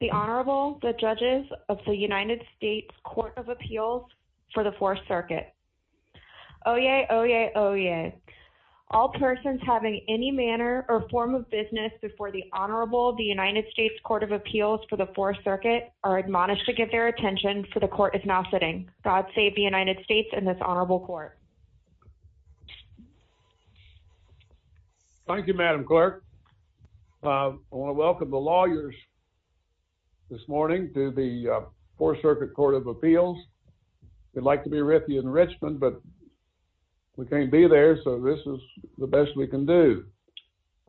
The Honorable, the Judges of the United States Court of Appeals for the Fourth Circuit. Oyez! Oyez! Oyez! All persons having any manner or form of business before the Honorable of the United States Court of Appeals for the Fourth Circuit are admonished to give their attention, for the Court is now sitting. God save the United States and this Honorable Court. Thank you, Madam Clerk. I want to welcome the lawyers this morning to the Fourth Circuit Court of Appeals. We'd like to be with you in Richmond, but we can't be there, so this is the best we can do.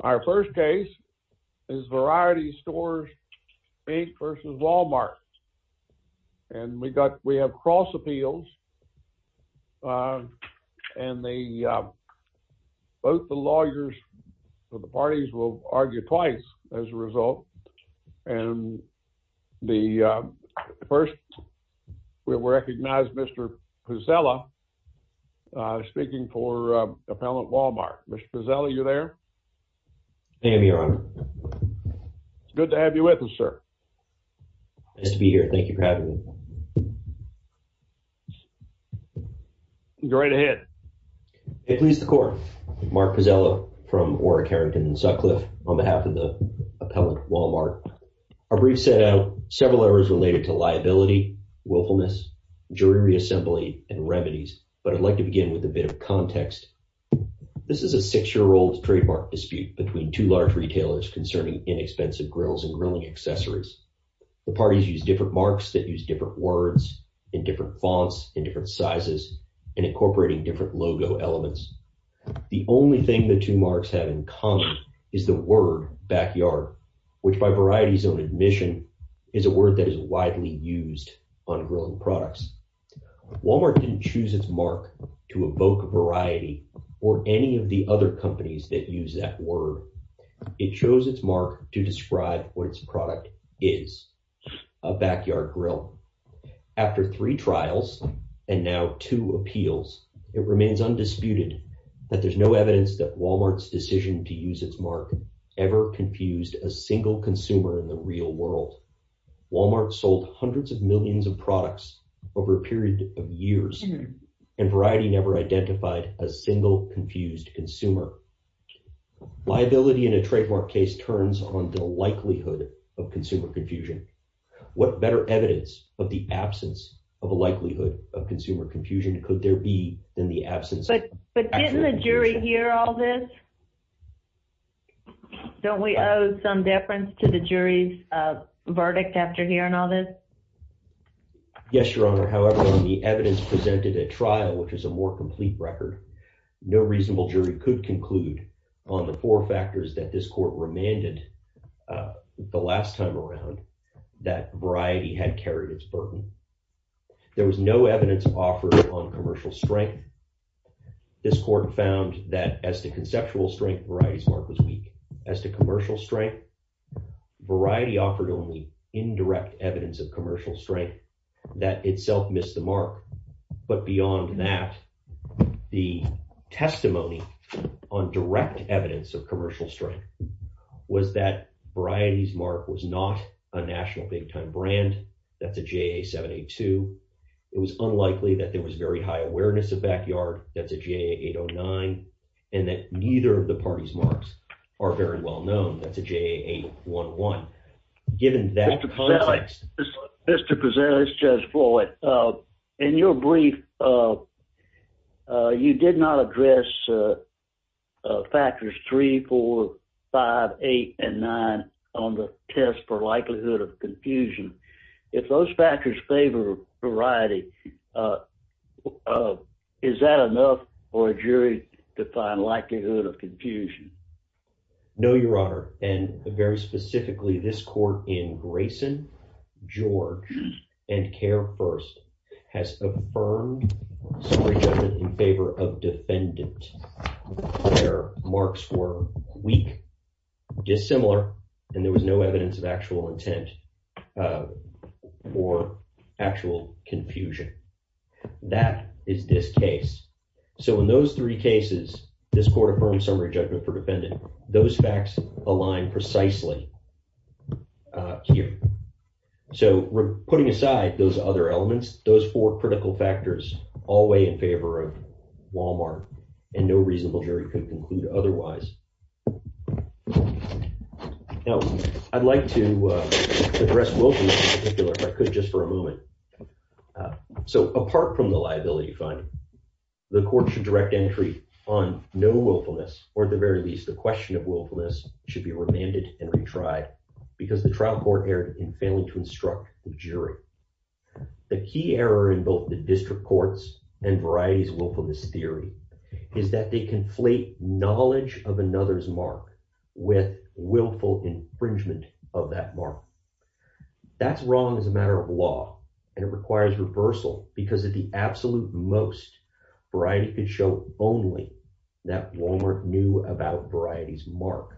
Our first case is Variety Stores, Inc. v. Walmart. And we've got, we have cross appeals, and the, both the lawyers for the parties will argue twice as a result, and the first, we'll recognize Mr. Pizzella, speaking for Appellant Mr. Pizzella, are you there? I'm here, Your Honor. Good to have you with us, sir. Nice to be here. Thank you for having me. Go right ahead. May it please the Court, Mark Pizzella from Orrick, Harrington & Sutcliffe on behalf of the Appellant, Walmart. Our brief set out several errors related to liability, willfulness, jury reassembly, and remedies, but I'd like to begin with a bit of context. This is a six-year-old trademark dispute between two large retailers concerning inexpensive grills and grilling accessories. The parties use different marks that use different words, in different fonts, in different sizes, and incorporating different logo elements. The only thing the two marks have in common is the word backyard, which by Variety's own admission, is a word that is widely used on grilling products. Walmart didn't choose its mark to evoke variety or any of the other companies that use that word. It chose its mark to describe what its product is, a backyard grill. After three trials, and now two appeals, it remains undisputed that there's no evidence that Walmart's decision to use its mark ever confused a single consumer in the real world. Walmart sold hundreds of millions of products over a period of years, and Variety never identified a single confused consumer. Liability in a trademark case turns on the likelihood of consumer confusion. What better evidence of the absence of a likelihood of consumer confusion could there be than the absence of actual confusion? But didn't the jury hear all this? Don't we owe some deference to the jury's verdict after hearing all this? Yes, Your Honor. However, when the evidence presented at trial, which is a more complete record, no reasonable jury could conclude on the four factors that this court remanded the last time around that Variety had carried its burden. There was no evidence offered on commercial strength. This court found that as to conceptual strength, Variety's mark was weak. As to commercial strength, Variety offered only indirect evidence of commercial strength that itself missed the mark. But beyond that, the testimony on direct evidence of commercial strength was that Variety's mark was not a national big-time brand. That's a JA-782. It was unlikely that there was very high awareness of backyard. That's a JA-809. And that neither of the parties' marks are very well known. That's a JA-811. Given that context... Mr. Pezzelli, this is Judge Floyd. In your brief, you did not address factors 3, 4, 5, 8, and 9 on the test for likelihood of confusion. If those factors favor Variety, is that enough for a jury to find likelihood of confusion? No, Your Honor. And very specifically, this court in Grayson, George, and Kerr first has affirmed summary judgment in favor of defendant where marks were weak, dissimilar, and there was no evidence of actual intent or actual confusion. That is this case. So in those three cases, this court affirmed summary judgment for defendant. Those facts align precisely here. So we're putting aside those other elements, those four critical factors, all the way in favor of Walmart. And no reasonable jury could conclude otherwise. Now, I'd like to address Wilkins in particular, if I could just for a moment. So apart from the liability finding, the court should direct entry on no willfulness, or at the very least, the question of willfulness should be remanded and retried because the trial court erred in failing to instruct the jury. The key error in both the district courts and Variety's willfulness theory is that they conflate knowledge of another's mark with willful infringement of that mark. That's wrong as a matter of law. And it requires reversal because at the absolute most, Variety could show only that Walmart knew about Variety's mark.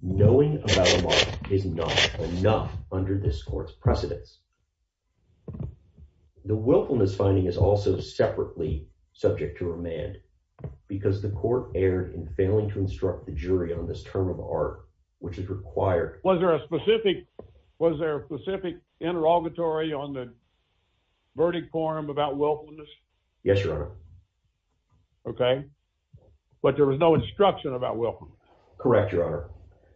Knowing about a mark is not enough under this court's precedence. The willfulness finding is also separately subject to remand because the court erred in failing to instruct the jury on this term of art, which is required. Was there a specific interrogatory on the verdict forum about willfulness? Yes, Your Honor. Okay. But there was no instruction about willfulness. Correct, Your Honor.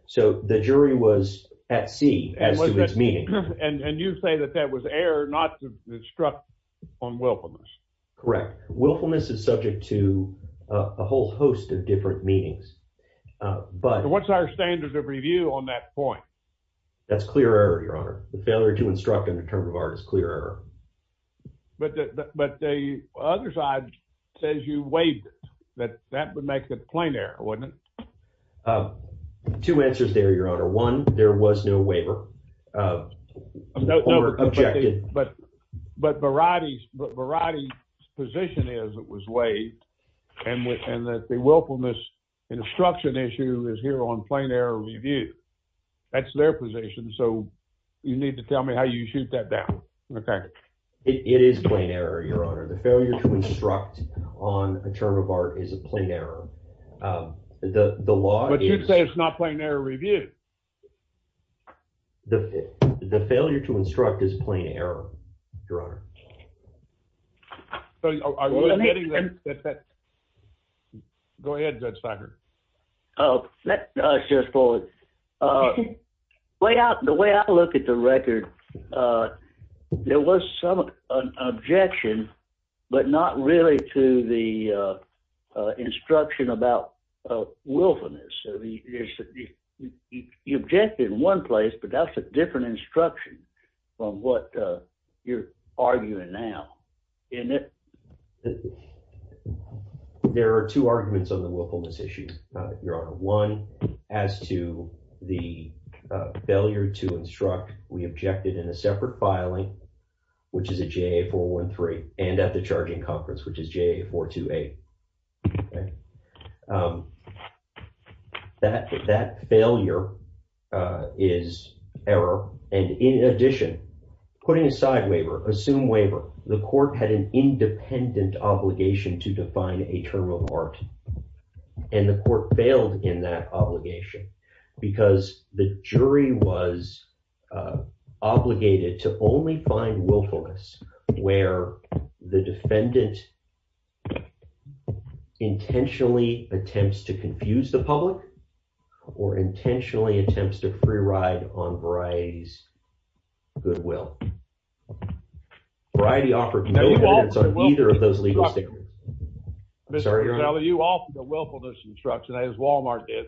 So the jury was at sea as to its meaning. And you say that that was error not to instruct on willfulness. Correct. Willfulness is subject to a whole host of different meanings. What's our standard of review on that point? That's clear error, Your Honor. The failure to instruct on the term of art is clear error. But the other side says you waived it. That would make it plain error, wouldn't it? Two answers there, Your Honor. One, there was no waiver. No, but Variety's position is it was waived. And that the willfulness instruction issue is here on plain error review. That's their position. So you need to tell me how you shoot that down. It is plain error, Your Honor. The failure to instruct on a term of art is a plain error. But you say it's not plain error review. The failure to instruct is plain error, Your Honor. So are you admitting that that... Go ahead, Judge Becker. Let us just pull it. The way I look at the record, there was some objection, but not really to the instruction about willfulness. You objected in one place, but that's a different instruction from what you're arguing now, isn't it? There are two arguments on the willfulness issue, Your Honor. One, as to the failure to instruct, we objected in a separate filing, which is a JA-413, and at the charging conference, which is JA-428. Okay. That failure is error. And in addition, putting aside waiver, assume waiver, the court had an independent obligation to define a term of art. And the court failed in that obligation because the jury was obligated to only find willfulness where the defendant intentionally attempts to confuse the public or intentionally attempts to free ride on Variety's goodwill. Variety offered no evidence on either of those legal statements. Sorry, Your Honor. You offered a willfulness instruction, as Walmart did,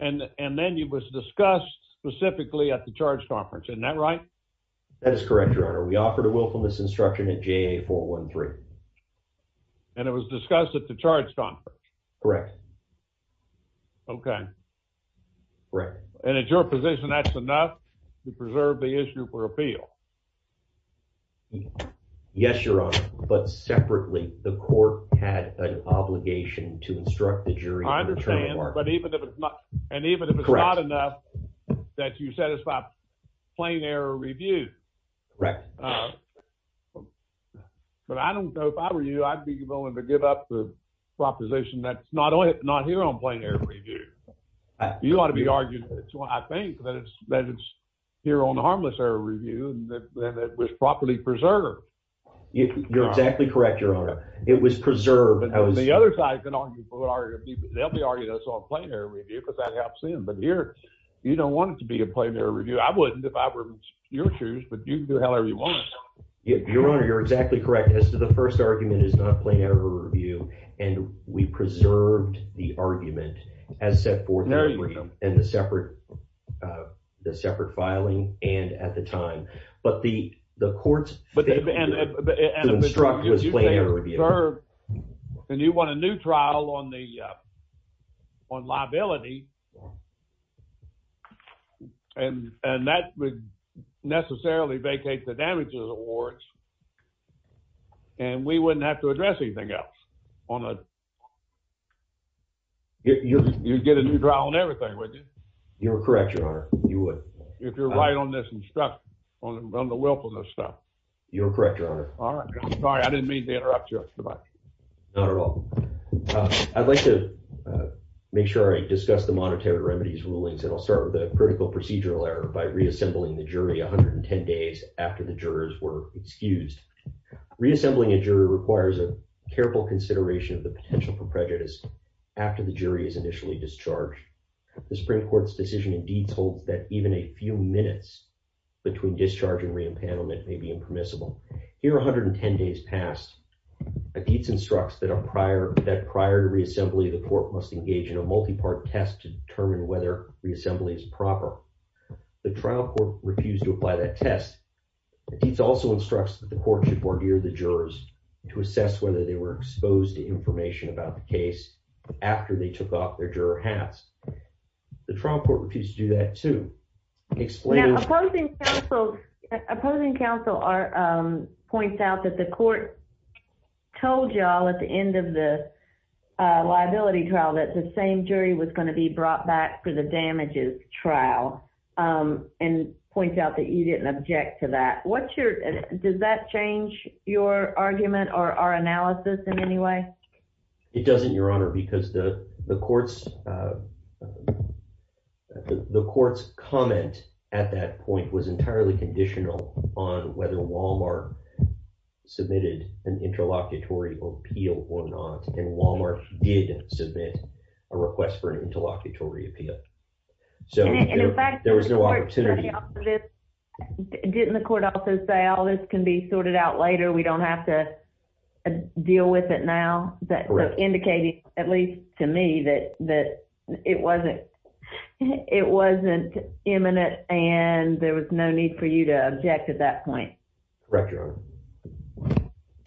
and then it was discussed specifically at the charge conference. Isn't that right? That is correct, Your Honor. We offered a willfulness instruction at JA-413. And it was discussed at the charge conference? Correct. Okay. And at your position, that's enough to preserve the issue for appeal? Yes, Your Honor, but separately, the court had an obligation to instruct the jury on the term of art. I understand, and even if it's not enough, that you satisfy plain error review. But I don't know if I were you, I'd be willing to give up the proposition that it's not here on plain error review. You ought to be arguing, I think, that it's here on harmless error review and that it was properly preserved. You're exactly correct, Your Honor. It was preserved. The other side can argue for it. They'll be arguing it's on plain error review because that helps them. But here, you don't want it to be a plain error review. I wouldn't if I were in your shoes, but you can do however you want. Your Honor, you're exactly correct. As to the first argument, it's not a plain error review. And we preserved the argument as set forth in the brief in the separate filing and at the time. But the court's… …instruct was plain error review. And you want a new trial on liability. And that would necessarily vacate the damages awards. And we wouldn't have to address anything else on a… You'd get a new trial on everything, wouldn't you? You're correct, Your Honor. You would. If you're right on this instruction, on the willfulness stuff. You're correct, Your Honor. All right. I'm sorry. I didn't mean to interrupt you. Not at all. I'd like to make sure I discuss the motion. This is monetary remedies rulings. And I'll start with a critical procedural error by reassembling the jury 110 days after the jurors were excused. Reassembling a jury requires a careful consideration of the potential for prejudice after the jury is initially discharged. The Supreme Court's decision in deeds holds that even a few minutes between discharge and re-enpanelment may be impermissible. Here, 110 days passed. Akeets instructs that prior to reassembly, the court must engage in a multi-part test to determine whether reassembly is proper. The trial court refused to apply that test. Akeets also instructs that the court should bargear the jurors to assess whether they were exposed to information about the case after they took off their juror hats. The trial court refused to do that, too. Now, opposing counsel points out that the court told y'all at the end of the liability trial that the same jury was going to be brought back for the damages trial and points out that you didn't object to that. Does that change your argument or our analysis in any way? It doesn't, Your Honor, because the court's comment at that point was entirely conditional on whether Walmart submitted an interlocutory appeal or not and Walmart did submit a request for an interlocutory appeal. So, there was no opportunity. Didn't the court also say all this can be sorted out later, we don't have to deal with it now? Indicating, at least to me, that it wasn't imminent and there was no need for you to object at that point. Correct, Your Honor.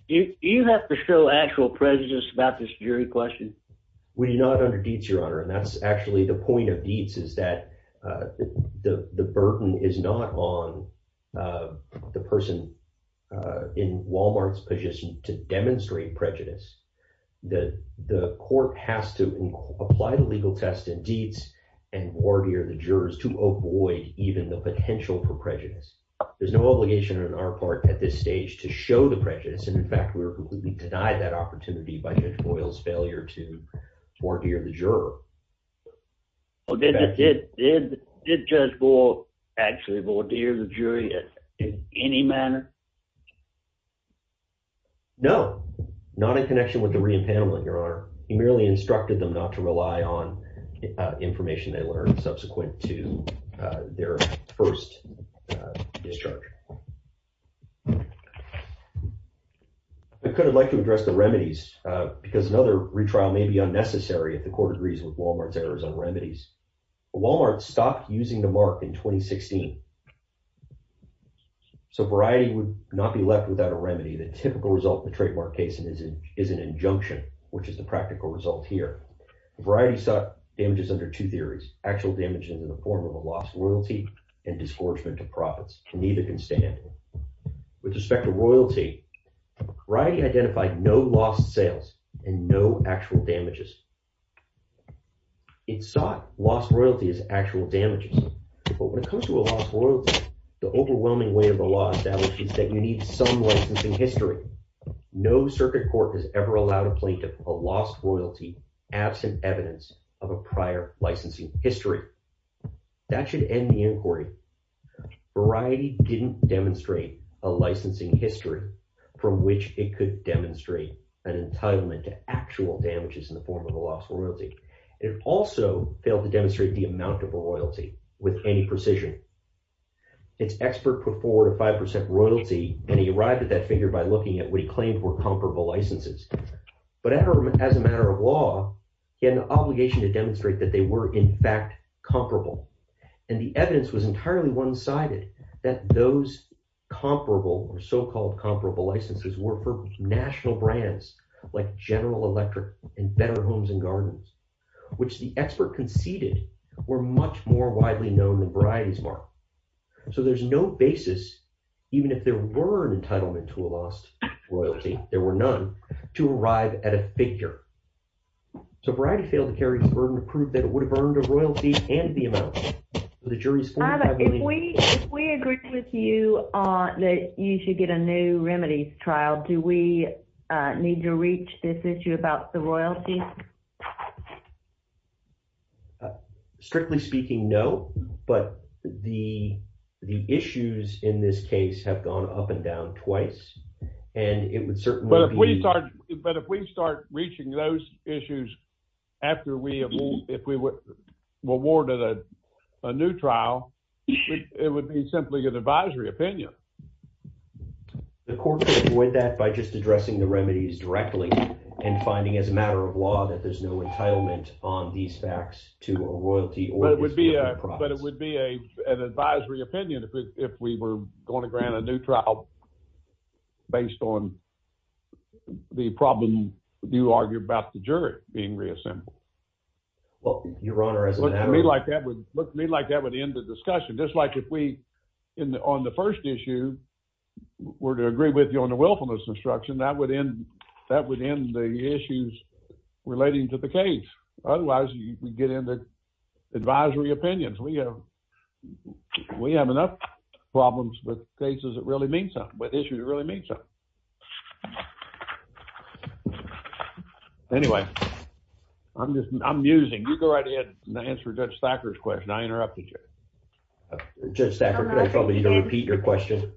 Do you have to show actual prejudice about this jury question? We do not under Dietz, Your Honor, and that's actually the point of Dietz is that the burden is not on the person in Walmart's position to demonstrate prejudice. The court has to apply the legal test in Dietz and voir dire the jurors to avoid even the potential for prejudice. There's no obligation on our part at this stage to show the prejudice and, in fact, we were completely denied that opportunity by Judge Boyle's failure to voir dire the juror. Did Judge Boyle actually voir dire the jury in any manner? No, not in connection with DeRionne Pamela, Your Honor. He merely instructed them not to rely on information they learned subsequent to their first discharge. I could have liked to address the remedies because another retrial may be unnecessary if the court agrees with Walmart's errors on remedies. Walmart stopped using the mark in 2016. So variety would not be left without a remedy. The typical result of the trademark case is an injunction, which is the practical result here. Variety sought damages under two theories, actual damages in the form of a lost royalty and disgorgement to profits. Neither can stand. With respect to royalty, variety identified no lost sales and no actual damages. It sought lost royalty as actual damages. But when it comes to a lost royalty, the overwhelming weight of the law establishes that you need some licensing history. No circuit court has ever allowed a plaintiff a lost royalty absent evidence of a prior licensing history. That should end the inquiry. Variety didn't demonstrate a licensing history from which it could demonstrate an entitlement to actual damages in the form of a lost royalty. It also failed to demonstrate the amount of royalty with any precision. Its expert put forward a 5% royalty and he arrived at that figure by looking at what he claimed were comparable licenses. But as a matter of law, he had an obligation to demonstrate that they were in fact comparable. And the evidence was entirely one-sided that those comparable or so-called comparable licenses were for national brands like General Electric and Better Homes and Gardens, which the expert conceded were much more widely known than Variety's mark. So there's no basis, even if there were an entitlement to a lost royalty, there were none, to arrive at a figure. So Variety failed to carry the burden of proof that it would have earned a royalty and the amount. If we agree with you that you should get a new remedies trial, do we need to reach this issue about the royalty? Strictly speaking, no. But the issues in this case have gone up and down twice. And it would certainly be... But if we start reaching those issues after we award a new trial, it would be simply an advisory opinion. The court could avoid that by just addressing the remedies directly and finding as a matter of law that there's no entitlement on these facts to a royalty. But it would be an advisory opinion if we were going to grant a new trial based on the problem you argue about the jury being reassembled. Well, Your Honor... Look to me like that would end the discussion. Just like if we, on the first issue, were to agree with you on the willfulness instruction, that would end the issues relating to the case. That would end the advisory opinions. We have enough problems with cases that really mean something, with issues that really mean something. Anyway, I'm just, I'm musing. You go right ahead and answer Judge Thacker's question. I interrupted you. Judge Thacker, could I tell you to repeat your question?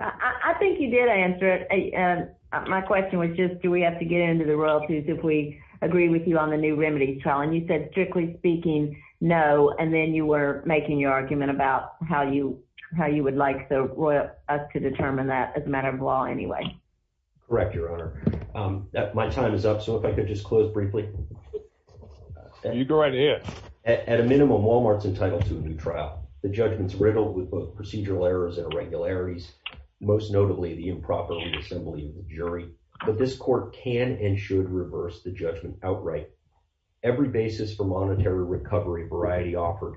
I think you did answer it. My question was just, do we have to get into the royalties if we agree with you on the new remedies trial? And you said, strictly speaking, no. And then you were making your argument about how you would like us to determine that as a matter of law anyway. Correct, Your Honor. My time is up, so if I could just close briefly. You go right ahead. At a minimum, Walmart's entitled to a new trial. The judgment's riddled with both procedural errors and irregularities, most notably the improper reassembly of the jury. But this court can and should reverse the judgment outright. Every basis for monetary recovery variety offered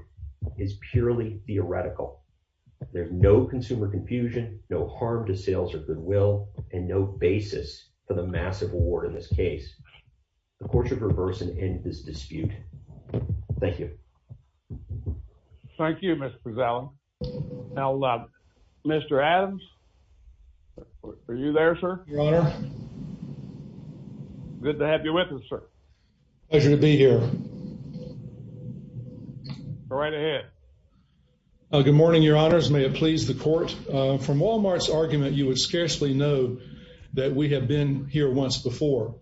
is purely theoretical. There's no consumer confusion, no harm to sales or goodwill, and no basis for the massive award in this case. The court should reverse and end this dispute. Thank you. Thank you, Mr. Prezell. Now, Mr. Adams, are you there, sir? Good morning, Your Honor. Good to have you with us, sir. Pleasure to be here. Go right ahead. Good morning, Your Honors. May it please the court. From Walmart's argument, you would scarcely know that we have been here once before.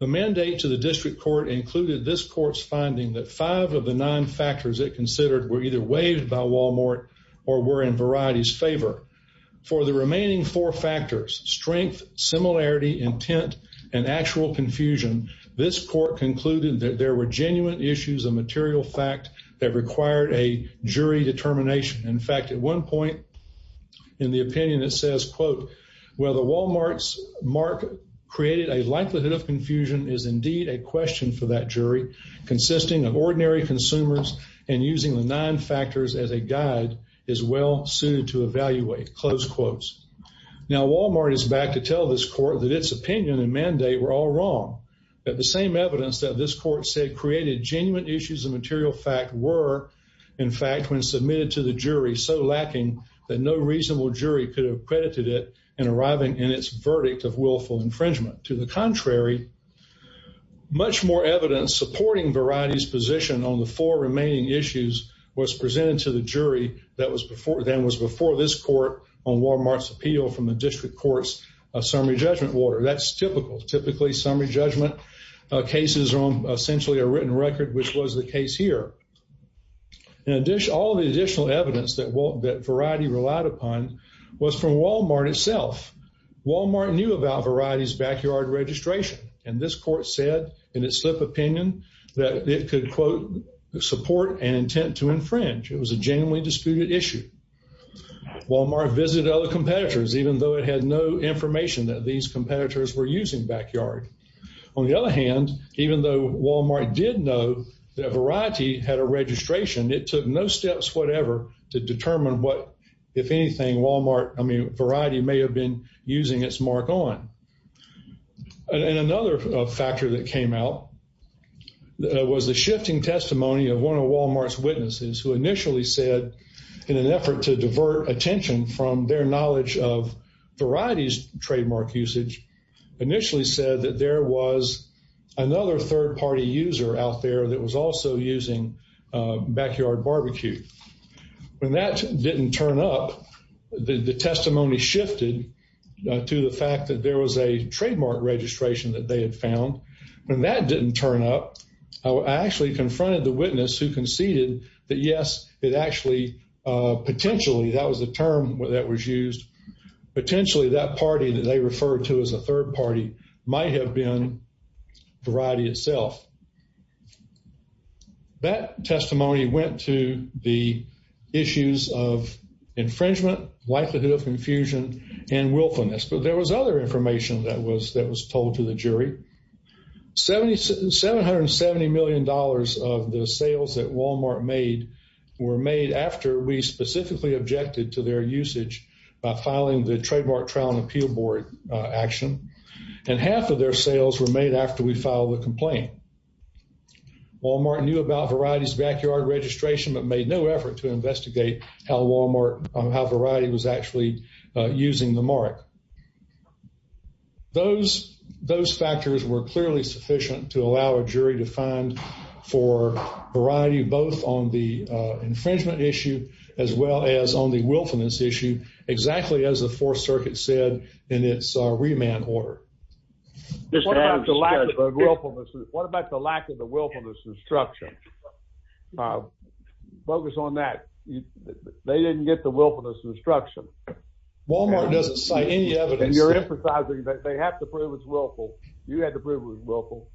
The mandate to the district court included this court's finding that five of the nine factors it considered were either waived by Walmart or were in Variety's favor. For the remaining four factors, strength, similarity, intent, and actual confusion, this court concluded that there were genuine issues of material fact that required a jury determination. In fact, at one point in the opinion, it says, quote, well, the Walmart's mark created a likelihood of confusion is indeed a question for that jury consisting of ordinary consumers and using the nine factors as a guide is well suited to evaluate, close quotes. Now, Walmart is back to tell this court that its opinion and mandate were all wrong, that the same evidence that this court said created genuine issues of material fact were, in fact, when submitted to the jury, so lacking that no reasonable jury could have credited it in arriving in its verdict of willful infringement. To the contrary, much more evidence supporting Variety's position on the four remaining issues than was before this court on Walmart's appeal from the district courts of summary judgment order. That's typical, typically summary judgment cases are on essentially a written record which was the case here. All the additional evidence that Variety relied upon was from Walmart itself. Walmart knew about Variety's backyard registration, and this court said in its slip opinion that it could, quote, not issue. Walmart visited other competitors even though it had no information that these competitors were using backyard. On the other hand, even though Walmart did know that Variety had a registration, it took no steps whatever to determine what, if anything, Variety may have been using its mark on. And another factor that came out was the shifting testimony of one of Walmart's witnesses who initially said in an effort to divert attention from their knowledge of Variety's trademark usage, initially said that there was another third-party user out there that was also using backyard barbecue. When that didn't turn up, the testimony shifted to the fact that there was a trademark registration that they had found. When that didn't turn up, I actually confronted the witness and said, yes, it actually potentially, that was the term that was used, potentially that party that they referred to as a third party might have been Variety itself. That testimony went to the issues of infringement, likelihood of confusion, and willfulness. But there was other information that was told to the jury. $770 million of the sales were made after we specifically objected to their usage by filing the Trademark Trial and Appeal Board action, and half of their sales were made after we filed the complaint. Walmart knew about Variety's backyard registration, but made no effort to investigate how Variety was actually using the mark. Those factors were clearly sufficient to allow a jury to find for Variety, an infringement issue, as well as on the willfulness issue, exactly as the Fourth Circuit said in its remand order. What about the lack of the willfulness instruction? Focus on that. They didn't get the willfulness instruction. Walmart doesn't cite any evidence. And you're emphasizing that they have to prove it's willful. You had to prove it was willful,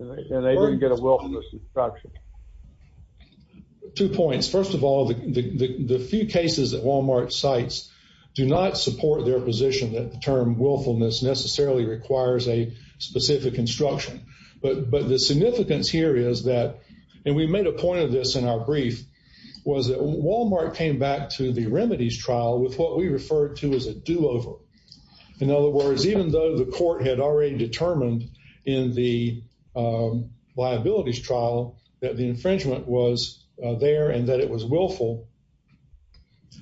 and they didn't get the willfulness instruction. Two points. First of all, the few cases that Walmart cites do not support their position that the term willfulness necessarily requires a specific instruction. But the significance here is that, and we made a point of this in our brief, was that Walmart came back to the remedies trial with what we refer to as a do-over. In other words, even though the court had already determined in the liabilities trial that the infringement was there and that it was willful,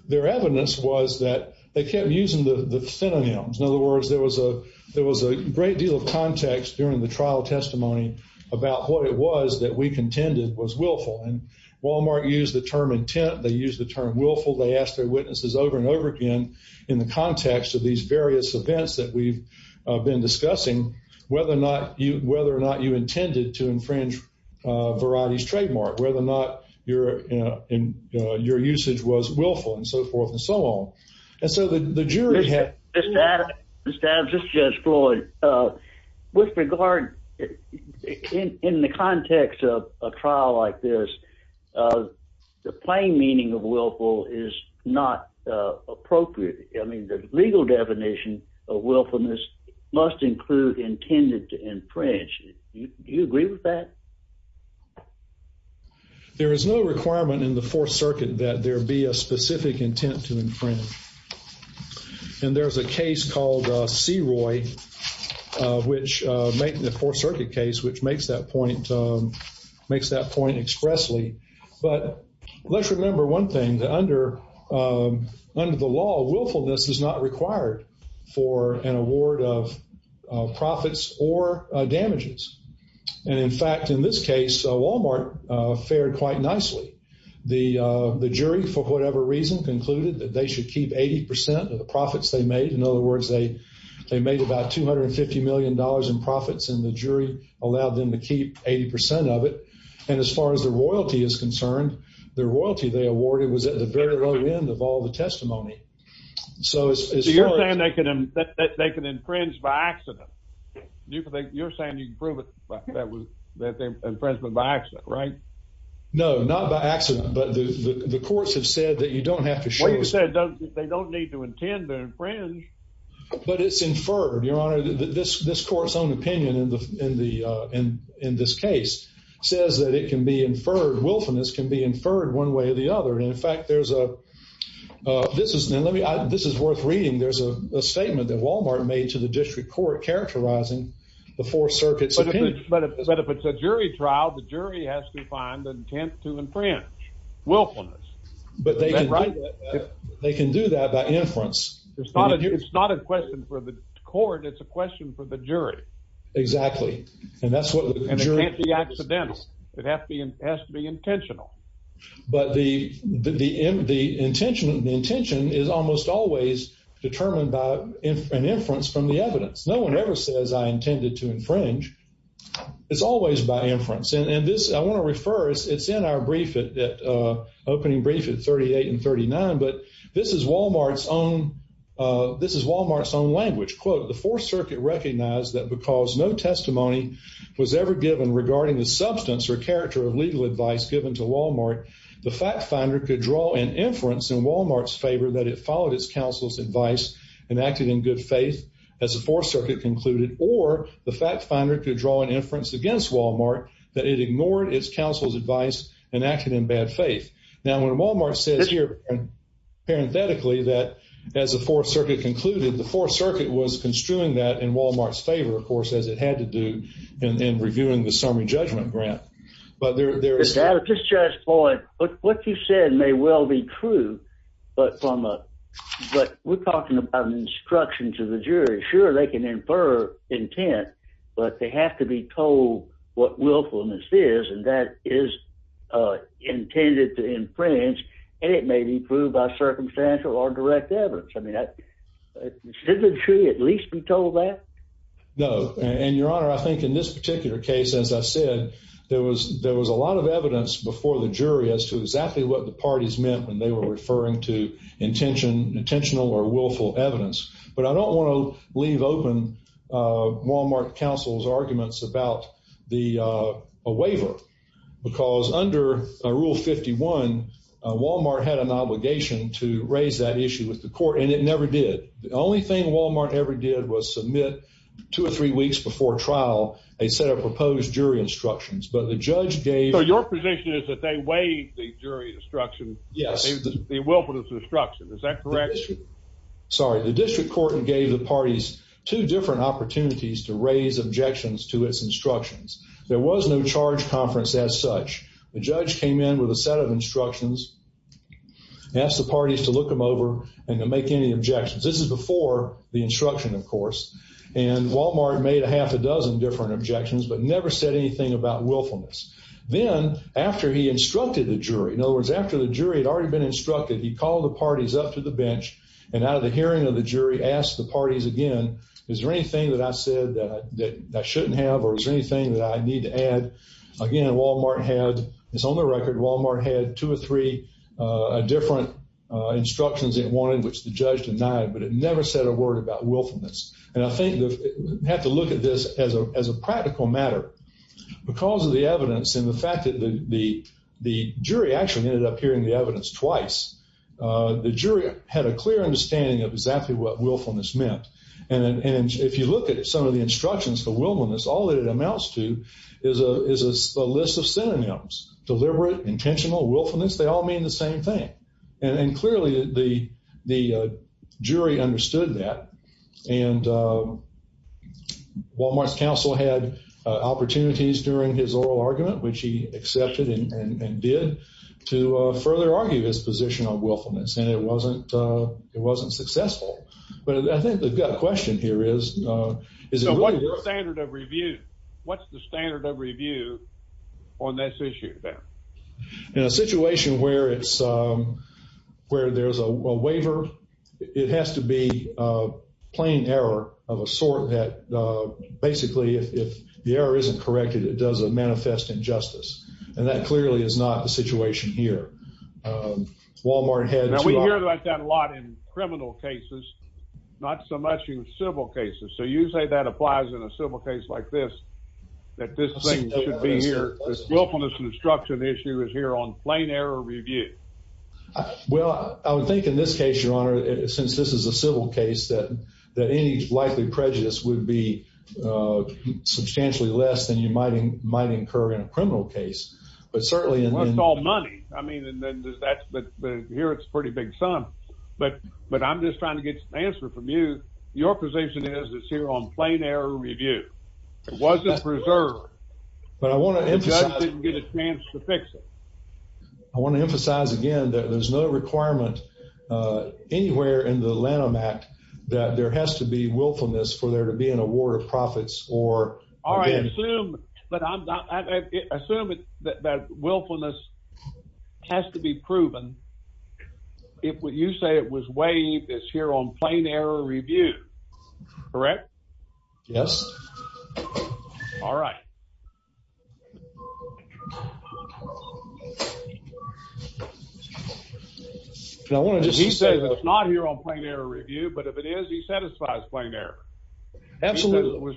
their evidence was that they kept using the synonyms. In other words, there was a great deal of context during the trial testimony about what it was that we contended was willful. Walmart used the term intent. They used the term willful. They asked their witnesses over and over again in the context of these various events that we've been discussing whether or not you intended to infringe Variety's trademark, whether or not your usage was willful and so forth and so on. And so the jury had- Mr. Adams, this is Judge Floyd. With regard, in the context of a trial like this, the plain meaning of willful is not appropriate and the legal definition of willfulness must include intended to infringe. Do you agree with that? There is no requirement in the Fourth Circuit that there be a specific intent to infringe. And there's a case called CROI, the Fourth Circuit case, which makes that point expressly. But let's remember one thing. Under the law, willfulness is not required for an award of profits or damages. And in fact, in this case, Walmart fared quite nicely. The jury, for whatever reason, concluded that they should keep 80 percent of the profits they made. In other words, they made about $250 million in profits and the jury allowed them to keep 80 percent of it. And as far as the royalty is concerned, the royalty they awarded was at the very low end of all the testimony. So you're saying they can infringe by accident? You're saying you can prove that they infringed by accident, right? No, not by accident. But the courts have said that you don't have to show Well, you said they don't need to intend to infringe. But it's inferred, Your Honor. This court's own opinion in this case says that it can be inferred, willfulness can be inferred one way or the other. And in fact, there's a this is worth reading. There's a statement that Walmart made to the district court characterizing the four circuits opinion. But if it's a jury trial, the jury has to find the intent to infringe, willfulness. But they can do that by inference. It's not a question for the court. It's a question for the jury. Exactly. And that's what the jury And it can't be accidental. It has to be intentional. But the inference the intention the intention is almost always determined by an inference from the evidence. No one ever says I intended to infringe. It's always by inference. And this I want to refer it's in our brief opening brief at 38 and 39. But this is Walmart's own this is Walmart's own language. Quote, the fourth circuit recognized that because no testimony was ever given regarding the substance or character of legal advice given to Walmart, the fact finder could draw an inference in Walmart's favor that it followed its counsel's advice and acted in good faith as the fourth circuit concluded or the fact finder could draw an inference against Walmart that it ignored its counsel's advice and acted in bad faith. Now when Walmart says here parenthetically that as the fourth circuit concluded the fourth circuit was construing that in Walmart's favor of course, as it had to do in reviewing the summary judgment grant. But there is at this judge's point what you said may well be true but from a but we're talking about instructions of the jury. Sure, they can infer intent but they have to be told what willfulness is and that is intended to inference and it may be proved by circumstantial or direct evidence. I mean, shouldn't the jury at least be told that? No, and your honor, I think in this particular case as I said, there was a lot of evidence before the jury as to exactly what the parties meant when they were referring to intentional or willful evidence but I don't want to leave open Walmart counsel's arguments about a waiver because under rule 51 Walmart had an obligation to raise that issue with the court and it never did. The only thing Walmart ever did was submit two or three weeks before trial a set of proposed jury instructions but the judge gave So your position is that they waived the jury instruction Yes the willfulness instruction is that correct? Sorry, the district court gave the parties two different opportunities to raise objections to its instructions. There was no charge conference as such. The judge came in with a set of instructions and asked the parties to look them over and to make any objections. This is before the instruction of course and Walmart made a half a dozen different objections but never said anything about willfulness. Then after he instructed the jury in other words after the jury had already been instructed he called the parties up to the bench and out of the hearing of the jury asked the parties again is there anything that I said that I shouldn't have or is there anything that I need to add? Again, Walmart had it's on the record Walmart had two or three different instructions it wanted which the judge denied but it never said a word about willfulness and I think we have to look at this as a practical matter because of the evidence and the fact that the jury actually ended up hearing the evidence twice the jury had a clear understanding of exactly what willfulness meant and if you look at some of the instructions for willfulness all it amounts to is a list of synonyms deliberate, intentional, willfulness they all mean the same thing and clearly the jury understood that and Walmart's counsel had opportunities during his oral argument which he accepted and did to further argue his position on willfulness and it wasn't it wasn't successful but I think the question here is So what's the standard of review? What's the standard of review on this issue there? In a situation where it's where there's a waiver it has to be a plain error of a sort that basically if the error isn't corrected it does manifest injustice and that clearly is not the situation here Walmart had Now we hear about that a lot in criminal cases not so much in civil cases so you say that applies in a civil case like this that this thing should be here this willfulness instruction issue is here on plain error review Well I would think in this case your honor since this is a civil case that any likely prejudice would be substantially less than you might might incur in a criminal case but certainly Well it's all money I mean but here it's a pretty big sum but I'm just trying to get an answer from you your position is it's here on plain error review it wasn't preserved but I want to emphasize the judge didn't get a chance to fix it I want to emphasize again that there's no requirement anywhere in the that there has to be willfulness for there to be an award of profits or Alright assume assume that willfulness has to be proven if what you say it was waived it's here on plain error review correct Yes Alright He says it's not here on because he satisfies plain error Absolutely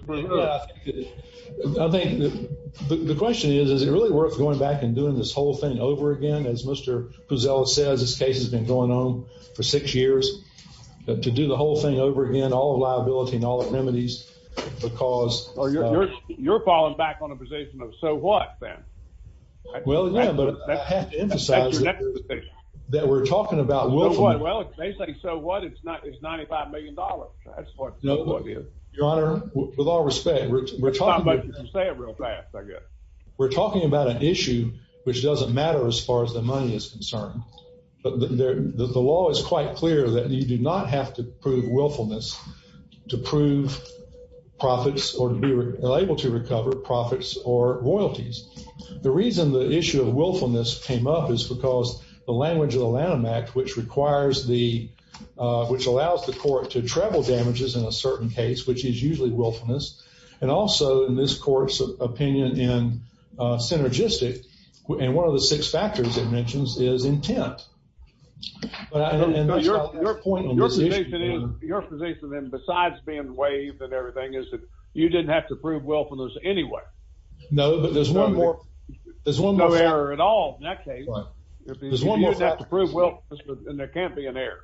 I think the question is is it really worth going back and doing this whole thing over again as Mr. Puzzello says this case has been going on for six years to do the whole thing over again all liability and all the remedies because You're falling back on a position of so what then Well yeah but I have to emphasize that we're talking about willfulness So what it's not it's 95 million dollars Your Honor with all respect we're talking about Say it real fast I guess We're talking about an issue which doesn't matter as far as the money is concerned but the law is quite clear that you do not have to prove willfulness to prove profits or to be able to recover profits or royalties The reason the issue of willfulness came up is because the language of the Lanham Act which requires the which allows the court to travel damages in a certain case which is usually willfulness and also in this court's opinion in synergistic and one of the six factors it mentions is intent Your point Your position in besides being waived and everything is that you didn't have to prove willfulness anyway No but there's one more No error at all in that case There's one more fact You didn't have to prove willfulness and there can't be an error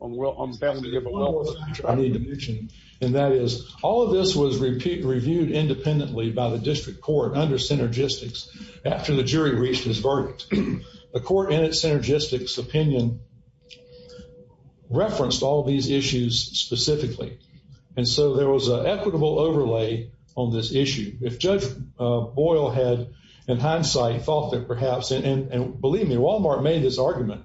on failing to give a willfulness I need to mention and that is all of this was reviewed independently by the district court under synergistics after the jury reached its verdict The court in its synergistics opinion referenced all these issues specifically and so there was an equitable overlay on this issue If Judge Boyle had in hindsight thought that perhaps and believe me Walmart made this argument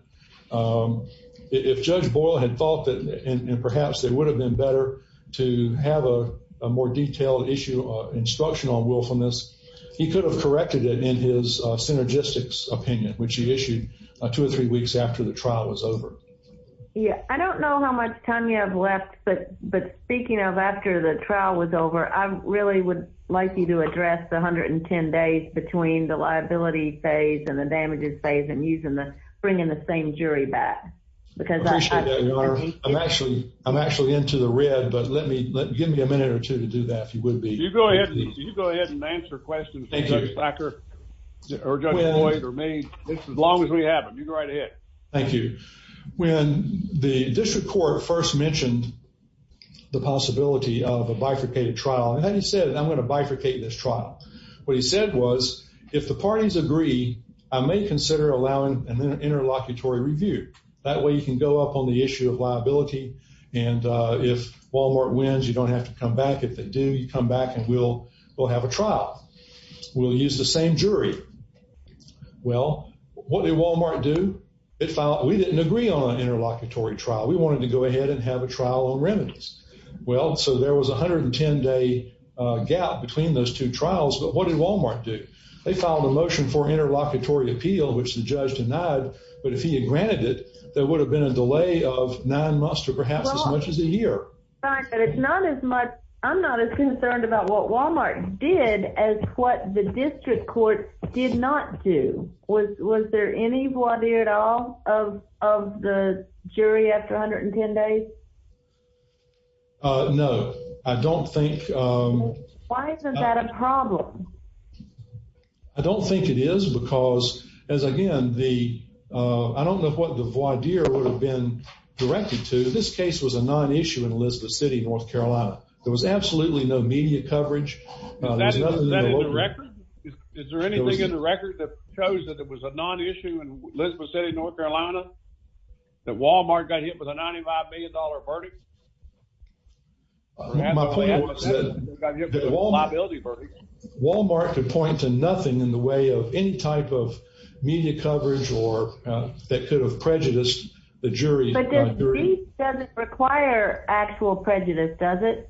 If Judge Boyle had thought that and perhaps it would have been better to have a more detailed issue instruction on willfulness he could have corrected it in his synergistics opinion which he issued two or three weeks after the trial was over Yeah I don't know how much time you have left but speaking of after the trial was over I really would like you to address the 110 days between the liability phase and the damages phase and bringing the same jury back because I appreciate that your honor I'm actually into the red but give me a minute or two to do that if you would be You go ahead and answer questions for Judge Packer or Judge Boyle or me as long as we have them you go right ahead Thank you When the district court first mentioned the possibility of a bifurcated trial and then he said I'm going to bifurcate this trial what he said was if the parties agree I may consider allowing an interlocutory review that way you can go up on the issue of liability and if Walmart wins you don't have to come back if they do you come back and we'll have a trial we'll use the same jury well what did Walmart do we didn't agree on an interlocutory trial we wanted to go ahead and have a trial on remedies well so there was a 110 day gap between those two trials but what did Walmart do they filed a motion for interlocutory appeal which the judge denied but if he had granted it there would have been a delay of nine months or perhaps as much as a year I'm not as concerned about what Walmart did as what the district court did not do was there any of the jury after 110 days no I don't think why isn't that a problem I don't think it is because as again the I don't know what the voir dire would have been directed to this case was a non-issue in Elizabeth City North there was absolutely no media coverage is there anything in the record that shows that it was a non-issue in Elizabeth City North think there is any type of media coverage that could have prejudiced the jury does it require actual prejudice does it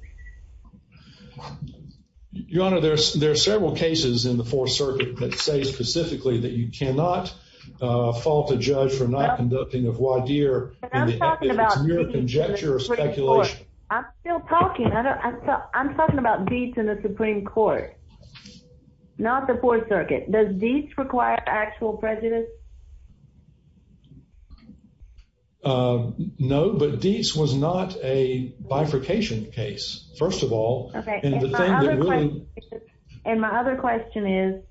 your honor there are several cases in the fourth circuit that say specifically that you cannot fault a judge for not conducting a jurisdiction of voir dire I'm still talking I'm talking about Dietz in the Supreme Court not the fourth circuit does Dietz require actual prejudice no but Dietz was not a bifurcation case first of all and my other question is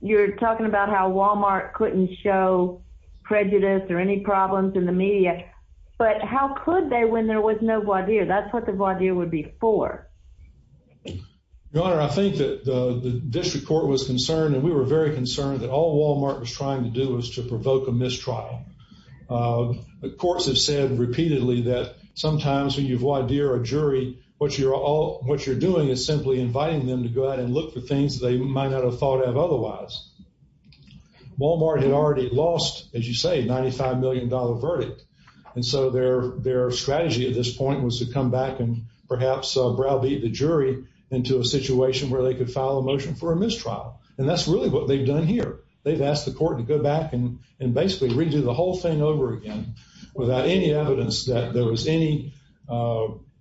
you're talking about how Wal-Mart couldn't show prejudice or any problems in the media but how could they when there was no voir dire that's what the voir dire would be for your honor I think that the district court was concerned and we were very concerned that all of these cases they might not have thought of otherwise Wal-Mart had already lost as you say $95 million verdict and so their strategy at this point was to come back and perhaps browbeat the jury into a situation where they could file a motion for a mistrial and that's really what they've done here they've asked the court to go back and redo the whole thing over again without any evidence that there was any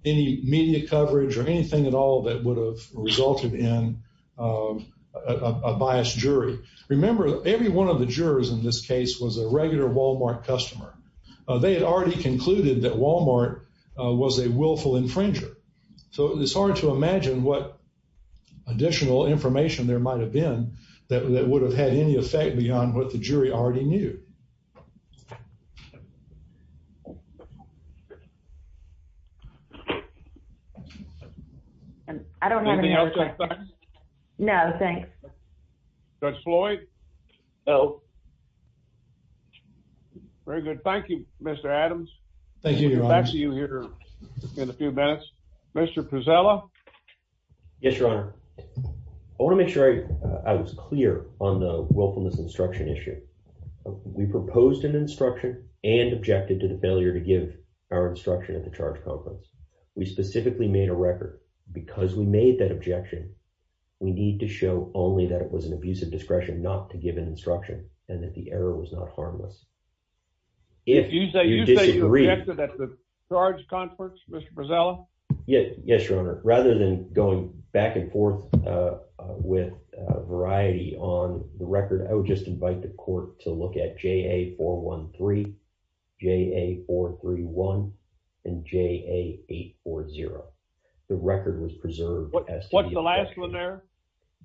media coverage or anything at all that would have resulted in a biased jury remember every one of the jurors in this case was a regular Wal-Mart customer they had already concluded that Wal-Mart was a willful infringer so it's hard to imagine what additional information there might have been that would have had any effect beyond what the jury already knew I don't have any other questions no thanks Judge Floyd no very good thank you Mr. Adams thank you back to you here in a few minutes Mr. Prezella yes your honor I want to make sure I was clear on the willfulness instruction issue we proposed an instruction and objected to the failure to give our record because we made that objection we need to show only that it was an abusive discretion not to give an instruction and that the error was not harmless if you disagree you say you objected that the charged consorts Mr. Prezella yes your honor rather than going back and forth with variety on the record I would just invite the court to look at JA413 JA431 and JA840 the record was preserved what's the last one there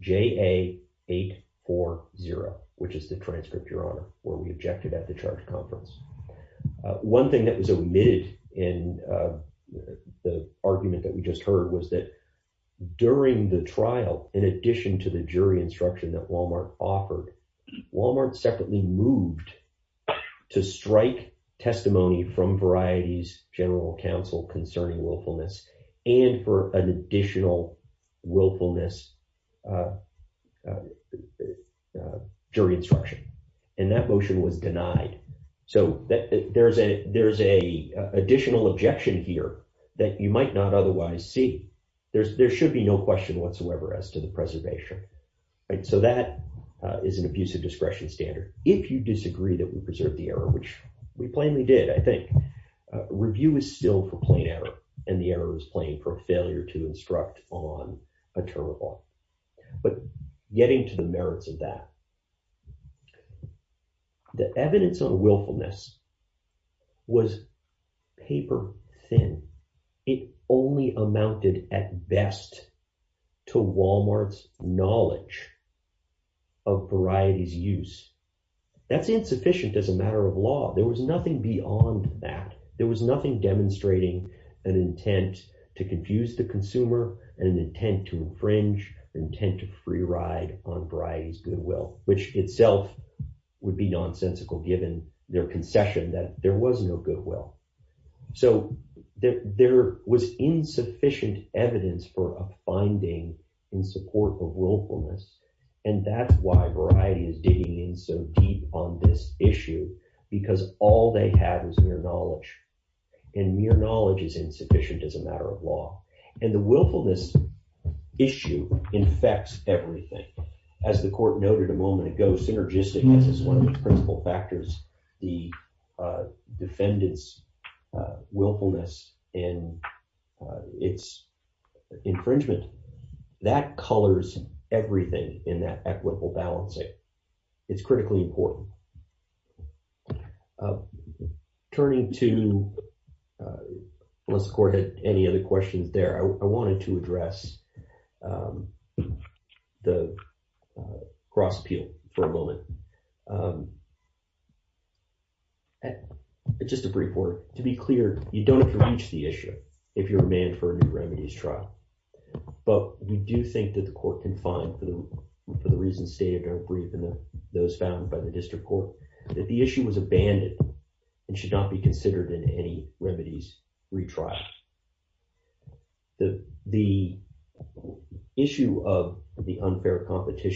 JA840 which is the transcript your honor where we objected at the charge conference one thing that was clear was that during the trial in addition to the jury instruction that Wal-Mart offered Wal-Mart separately strike testimony from variety's general counsel concerning willfulness and for an additional willfulness jury instruction and that motion was denied so there's a there's a additional objection here that you might not otherwise see there's there should be no question whatsoever as to the preservation right so that is an abusive discretion standard if you disagree that we preserved the error which we plainly did I think review is still for plain error and the error is plain for failure to instruct on a term of law but getting to the merits of that the evidence of willfulness was paper thin it only amounted at best to Wal-Mart's knowledge of variety's use that's insufficient as a evidence for a finding in support of willfulness and so deep on this issue because all they have to do is find the evidence that they can find the evidence that papers that may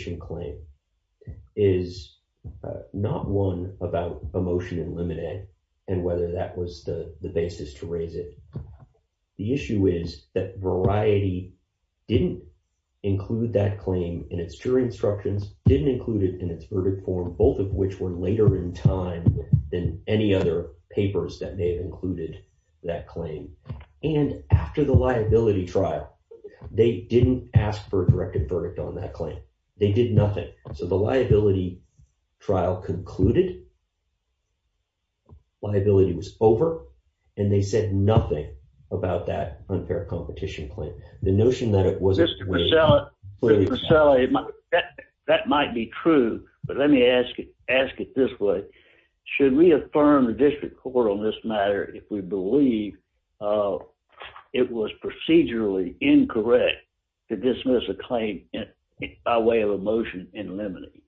have included that claim. And after the liability trial, they didn't ask for a directed verdict on that claim. They did nothing. So the liability trial concluded, liability was over, and they said nothing about that unfair competition claim. The notion that it wasn't... Mr. Pacella, that might be true, but let me ask it this way. Should we affirm the district court on this matter if we believe it was procedurally incorrect to dismiss a claim by way of a motion in limine?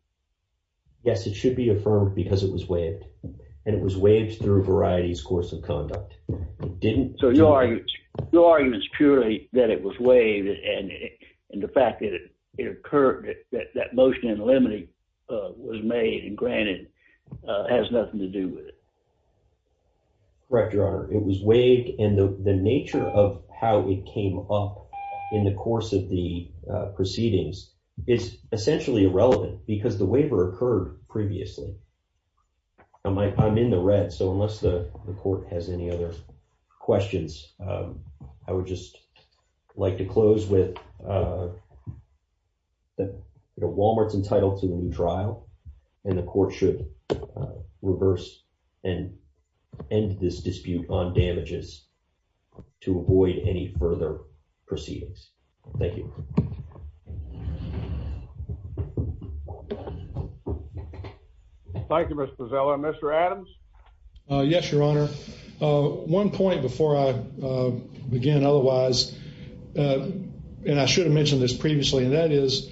Yes, it should be affirmed because it was waived, and it was waived through Variety's course of conduct. It didn't... So your argument is purely that it was waived, and the fact that it occurred that that motion in limine was made and has nothing to do with it? Correct, Your Honor. It was waived, and the nature of how it came up in the course of the proceedings is essentially irrelevant because the waiver occurred previously. I'm in the red, so unless the court has any other questions, I would just like to close with that Walmart's new trial, and the court should reverse and end this dispute on damages to avoid any further proceedings. Thank you. Thank you, Mr. Pacella. Mr. Adams? Yes, Your Honor. One point before I begin otherwise, and I should have mentioned this previously, and that is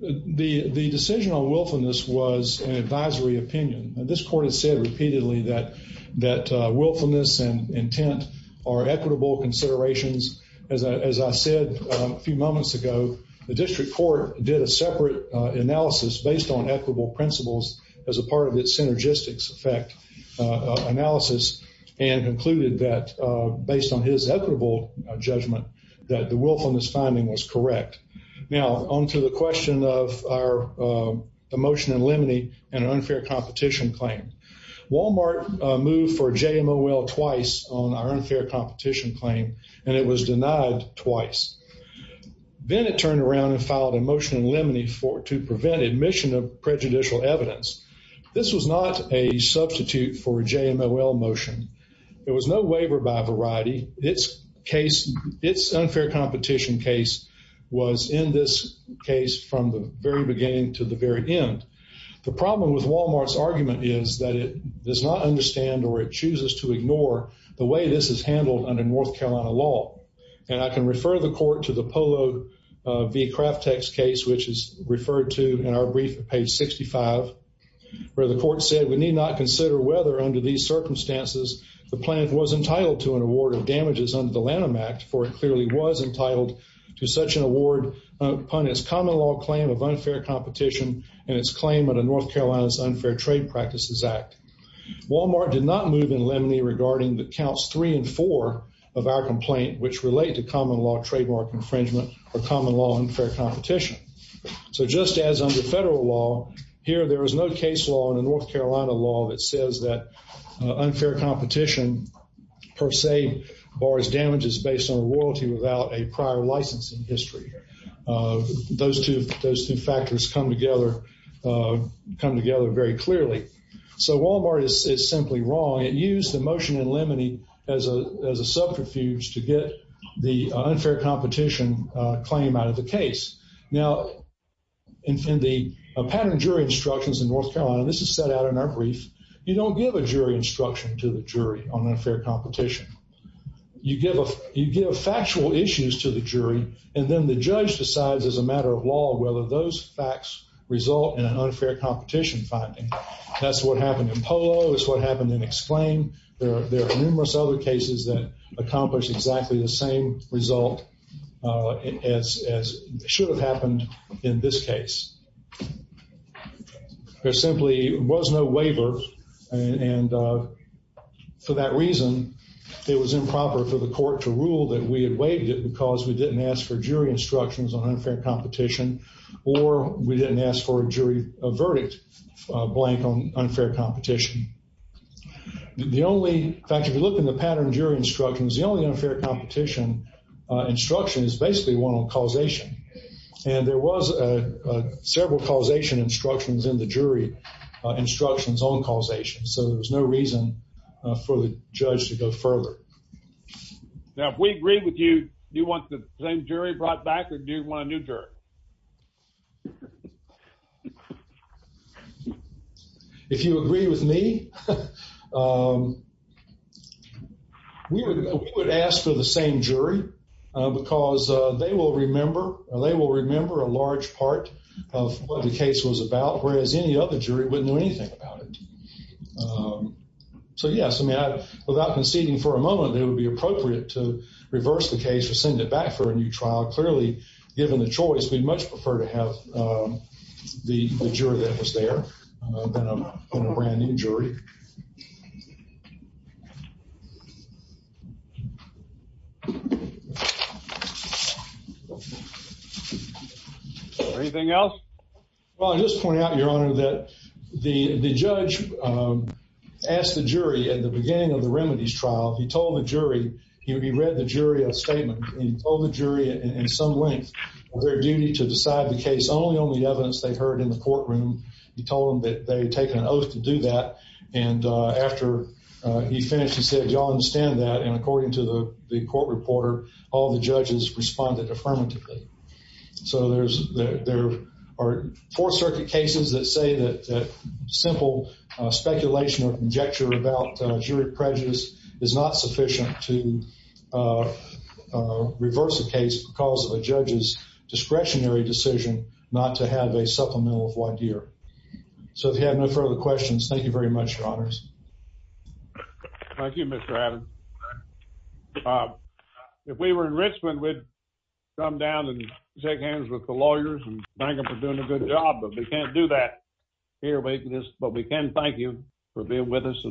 the decision on willfulness was an advisory opinion. This court has said repeatedly that willfulness and intent are equitable considerations. As I said a few moments ago, the district court did a separate analysis based on equitable principles as a part of its synergistics effect analysis and concluded that based on his equitable judgment that the Now, on to the question of our motion in limine and an unfair competition claim. Walmart moved for JMOL twice on our unfair competition claim, and it was denied twice. Then it turned around and filed a motion in limine to prevent admission of prejudicial evidence. This was not a substitute for a JMOL motion. There was no waiver by variety. Its unfair competition case was in this case from the very beginning to the very end. The problem with Walmart's argument is that it does not understand or it chooses to ignore the way this is handled under North Carolina law. And I can refer the court to the Polo v. Craftex case, which is referred to in our brief page 65, where the court said we need not consider whether under these circumstances the plant was entitled to an award of damages under the Lanham Act, for it to such an award upon its common law claim of unfair competition and its claim in the North Carolina's Unfair Trade Practices Act. Walmart did not move in limine regarding the counts three and four of our complaint, which relate to common law trademark infringement or common law unfair competition. So just as under federal law here, there is no case law in the North Carolina law that says that unfair competition per se bars damages based on royalty without a prior license in history. Those two factors come together very clearly. So Walmart is simply wrong. It used the motion in limine as a subterfuge to get the unfair competition claim out of the case. Now, in the pattern jury instructions in North Carolina, this is set out in our brief, you don't give a jury instruction to the jury on unfair competition. You give factual issues to the jury, and then the judge decides as a matter of law whether those facts result in an unfair competition finding. That's what happened in Polo, that's what happened in Exclaim. There are numerous other cases that accomplish exactly the same result as should have happened in this case. There simply was no waiver, and for that reason, it was improper for the court to rule that we had waived it because we didn't ask for jury instructions on unfair competition, or we didn't ask for a jury verdict blank on unfair competition. The only, in fact, if you look in the pattern jury instructions, the only unfair competition instruction is basically one on causation. And there was several causation instructions in the jury instructions on causation, so there's no reason for the judge to go further. Now, if we agree with you, do you want the same jury brought back, or do you want a new jury? If you agree with me, we would ask for the same jury because they will remember, or they will remember a large part of what the case was about, whereas any other jury wouldn't know anything about it. So yes, without conceding for a moment, it would be appropriate to reverse the case or send it back for a new trial. Clearly, given the choice, we'd much prefer to have the juror that was there than a brand new jury. Anything else? Well, I'll just point out, Your Honor, that the judge asked the jury at the beginning of the remedies trial, he told the jury, he read the jury a statement, and he told the jury in some length, their duty to decide the case only on the evidence they heard in the courtroom. He told them that they'd taken an oath to do that, and after he finished, he said, y'all understand that? And according to the court reporter, all the judges responded affirmatively. So there are Fourth Circuit cases that say that simple speculation or conjecture about jury prejudice is not sufficient to reverse the case because of a judge's discretionary decision not to have a supplemental wide year. So if you have no further questions, thank you very much, Your Honors. Thank you, Mr. Adams. If we were in Richmond, we'd come down and shake hands with the lawyers and thank them for doing a good job, but we can't do that here, but we can thank you for being with us.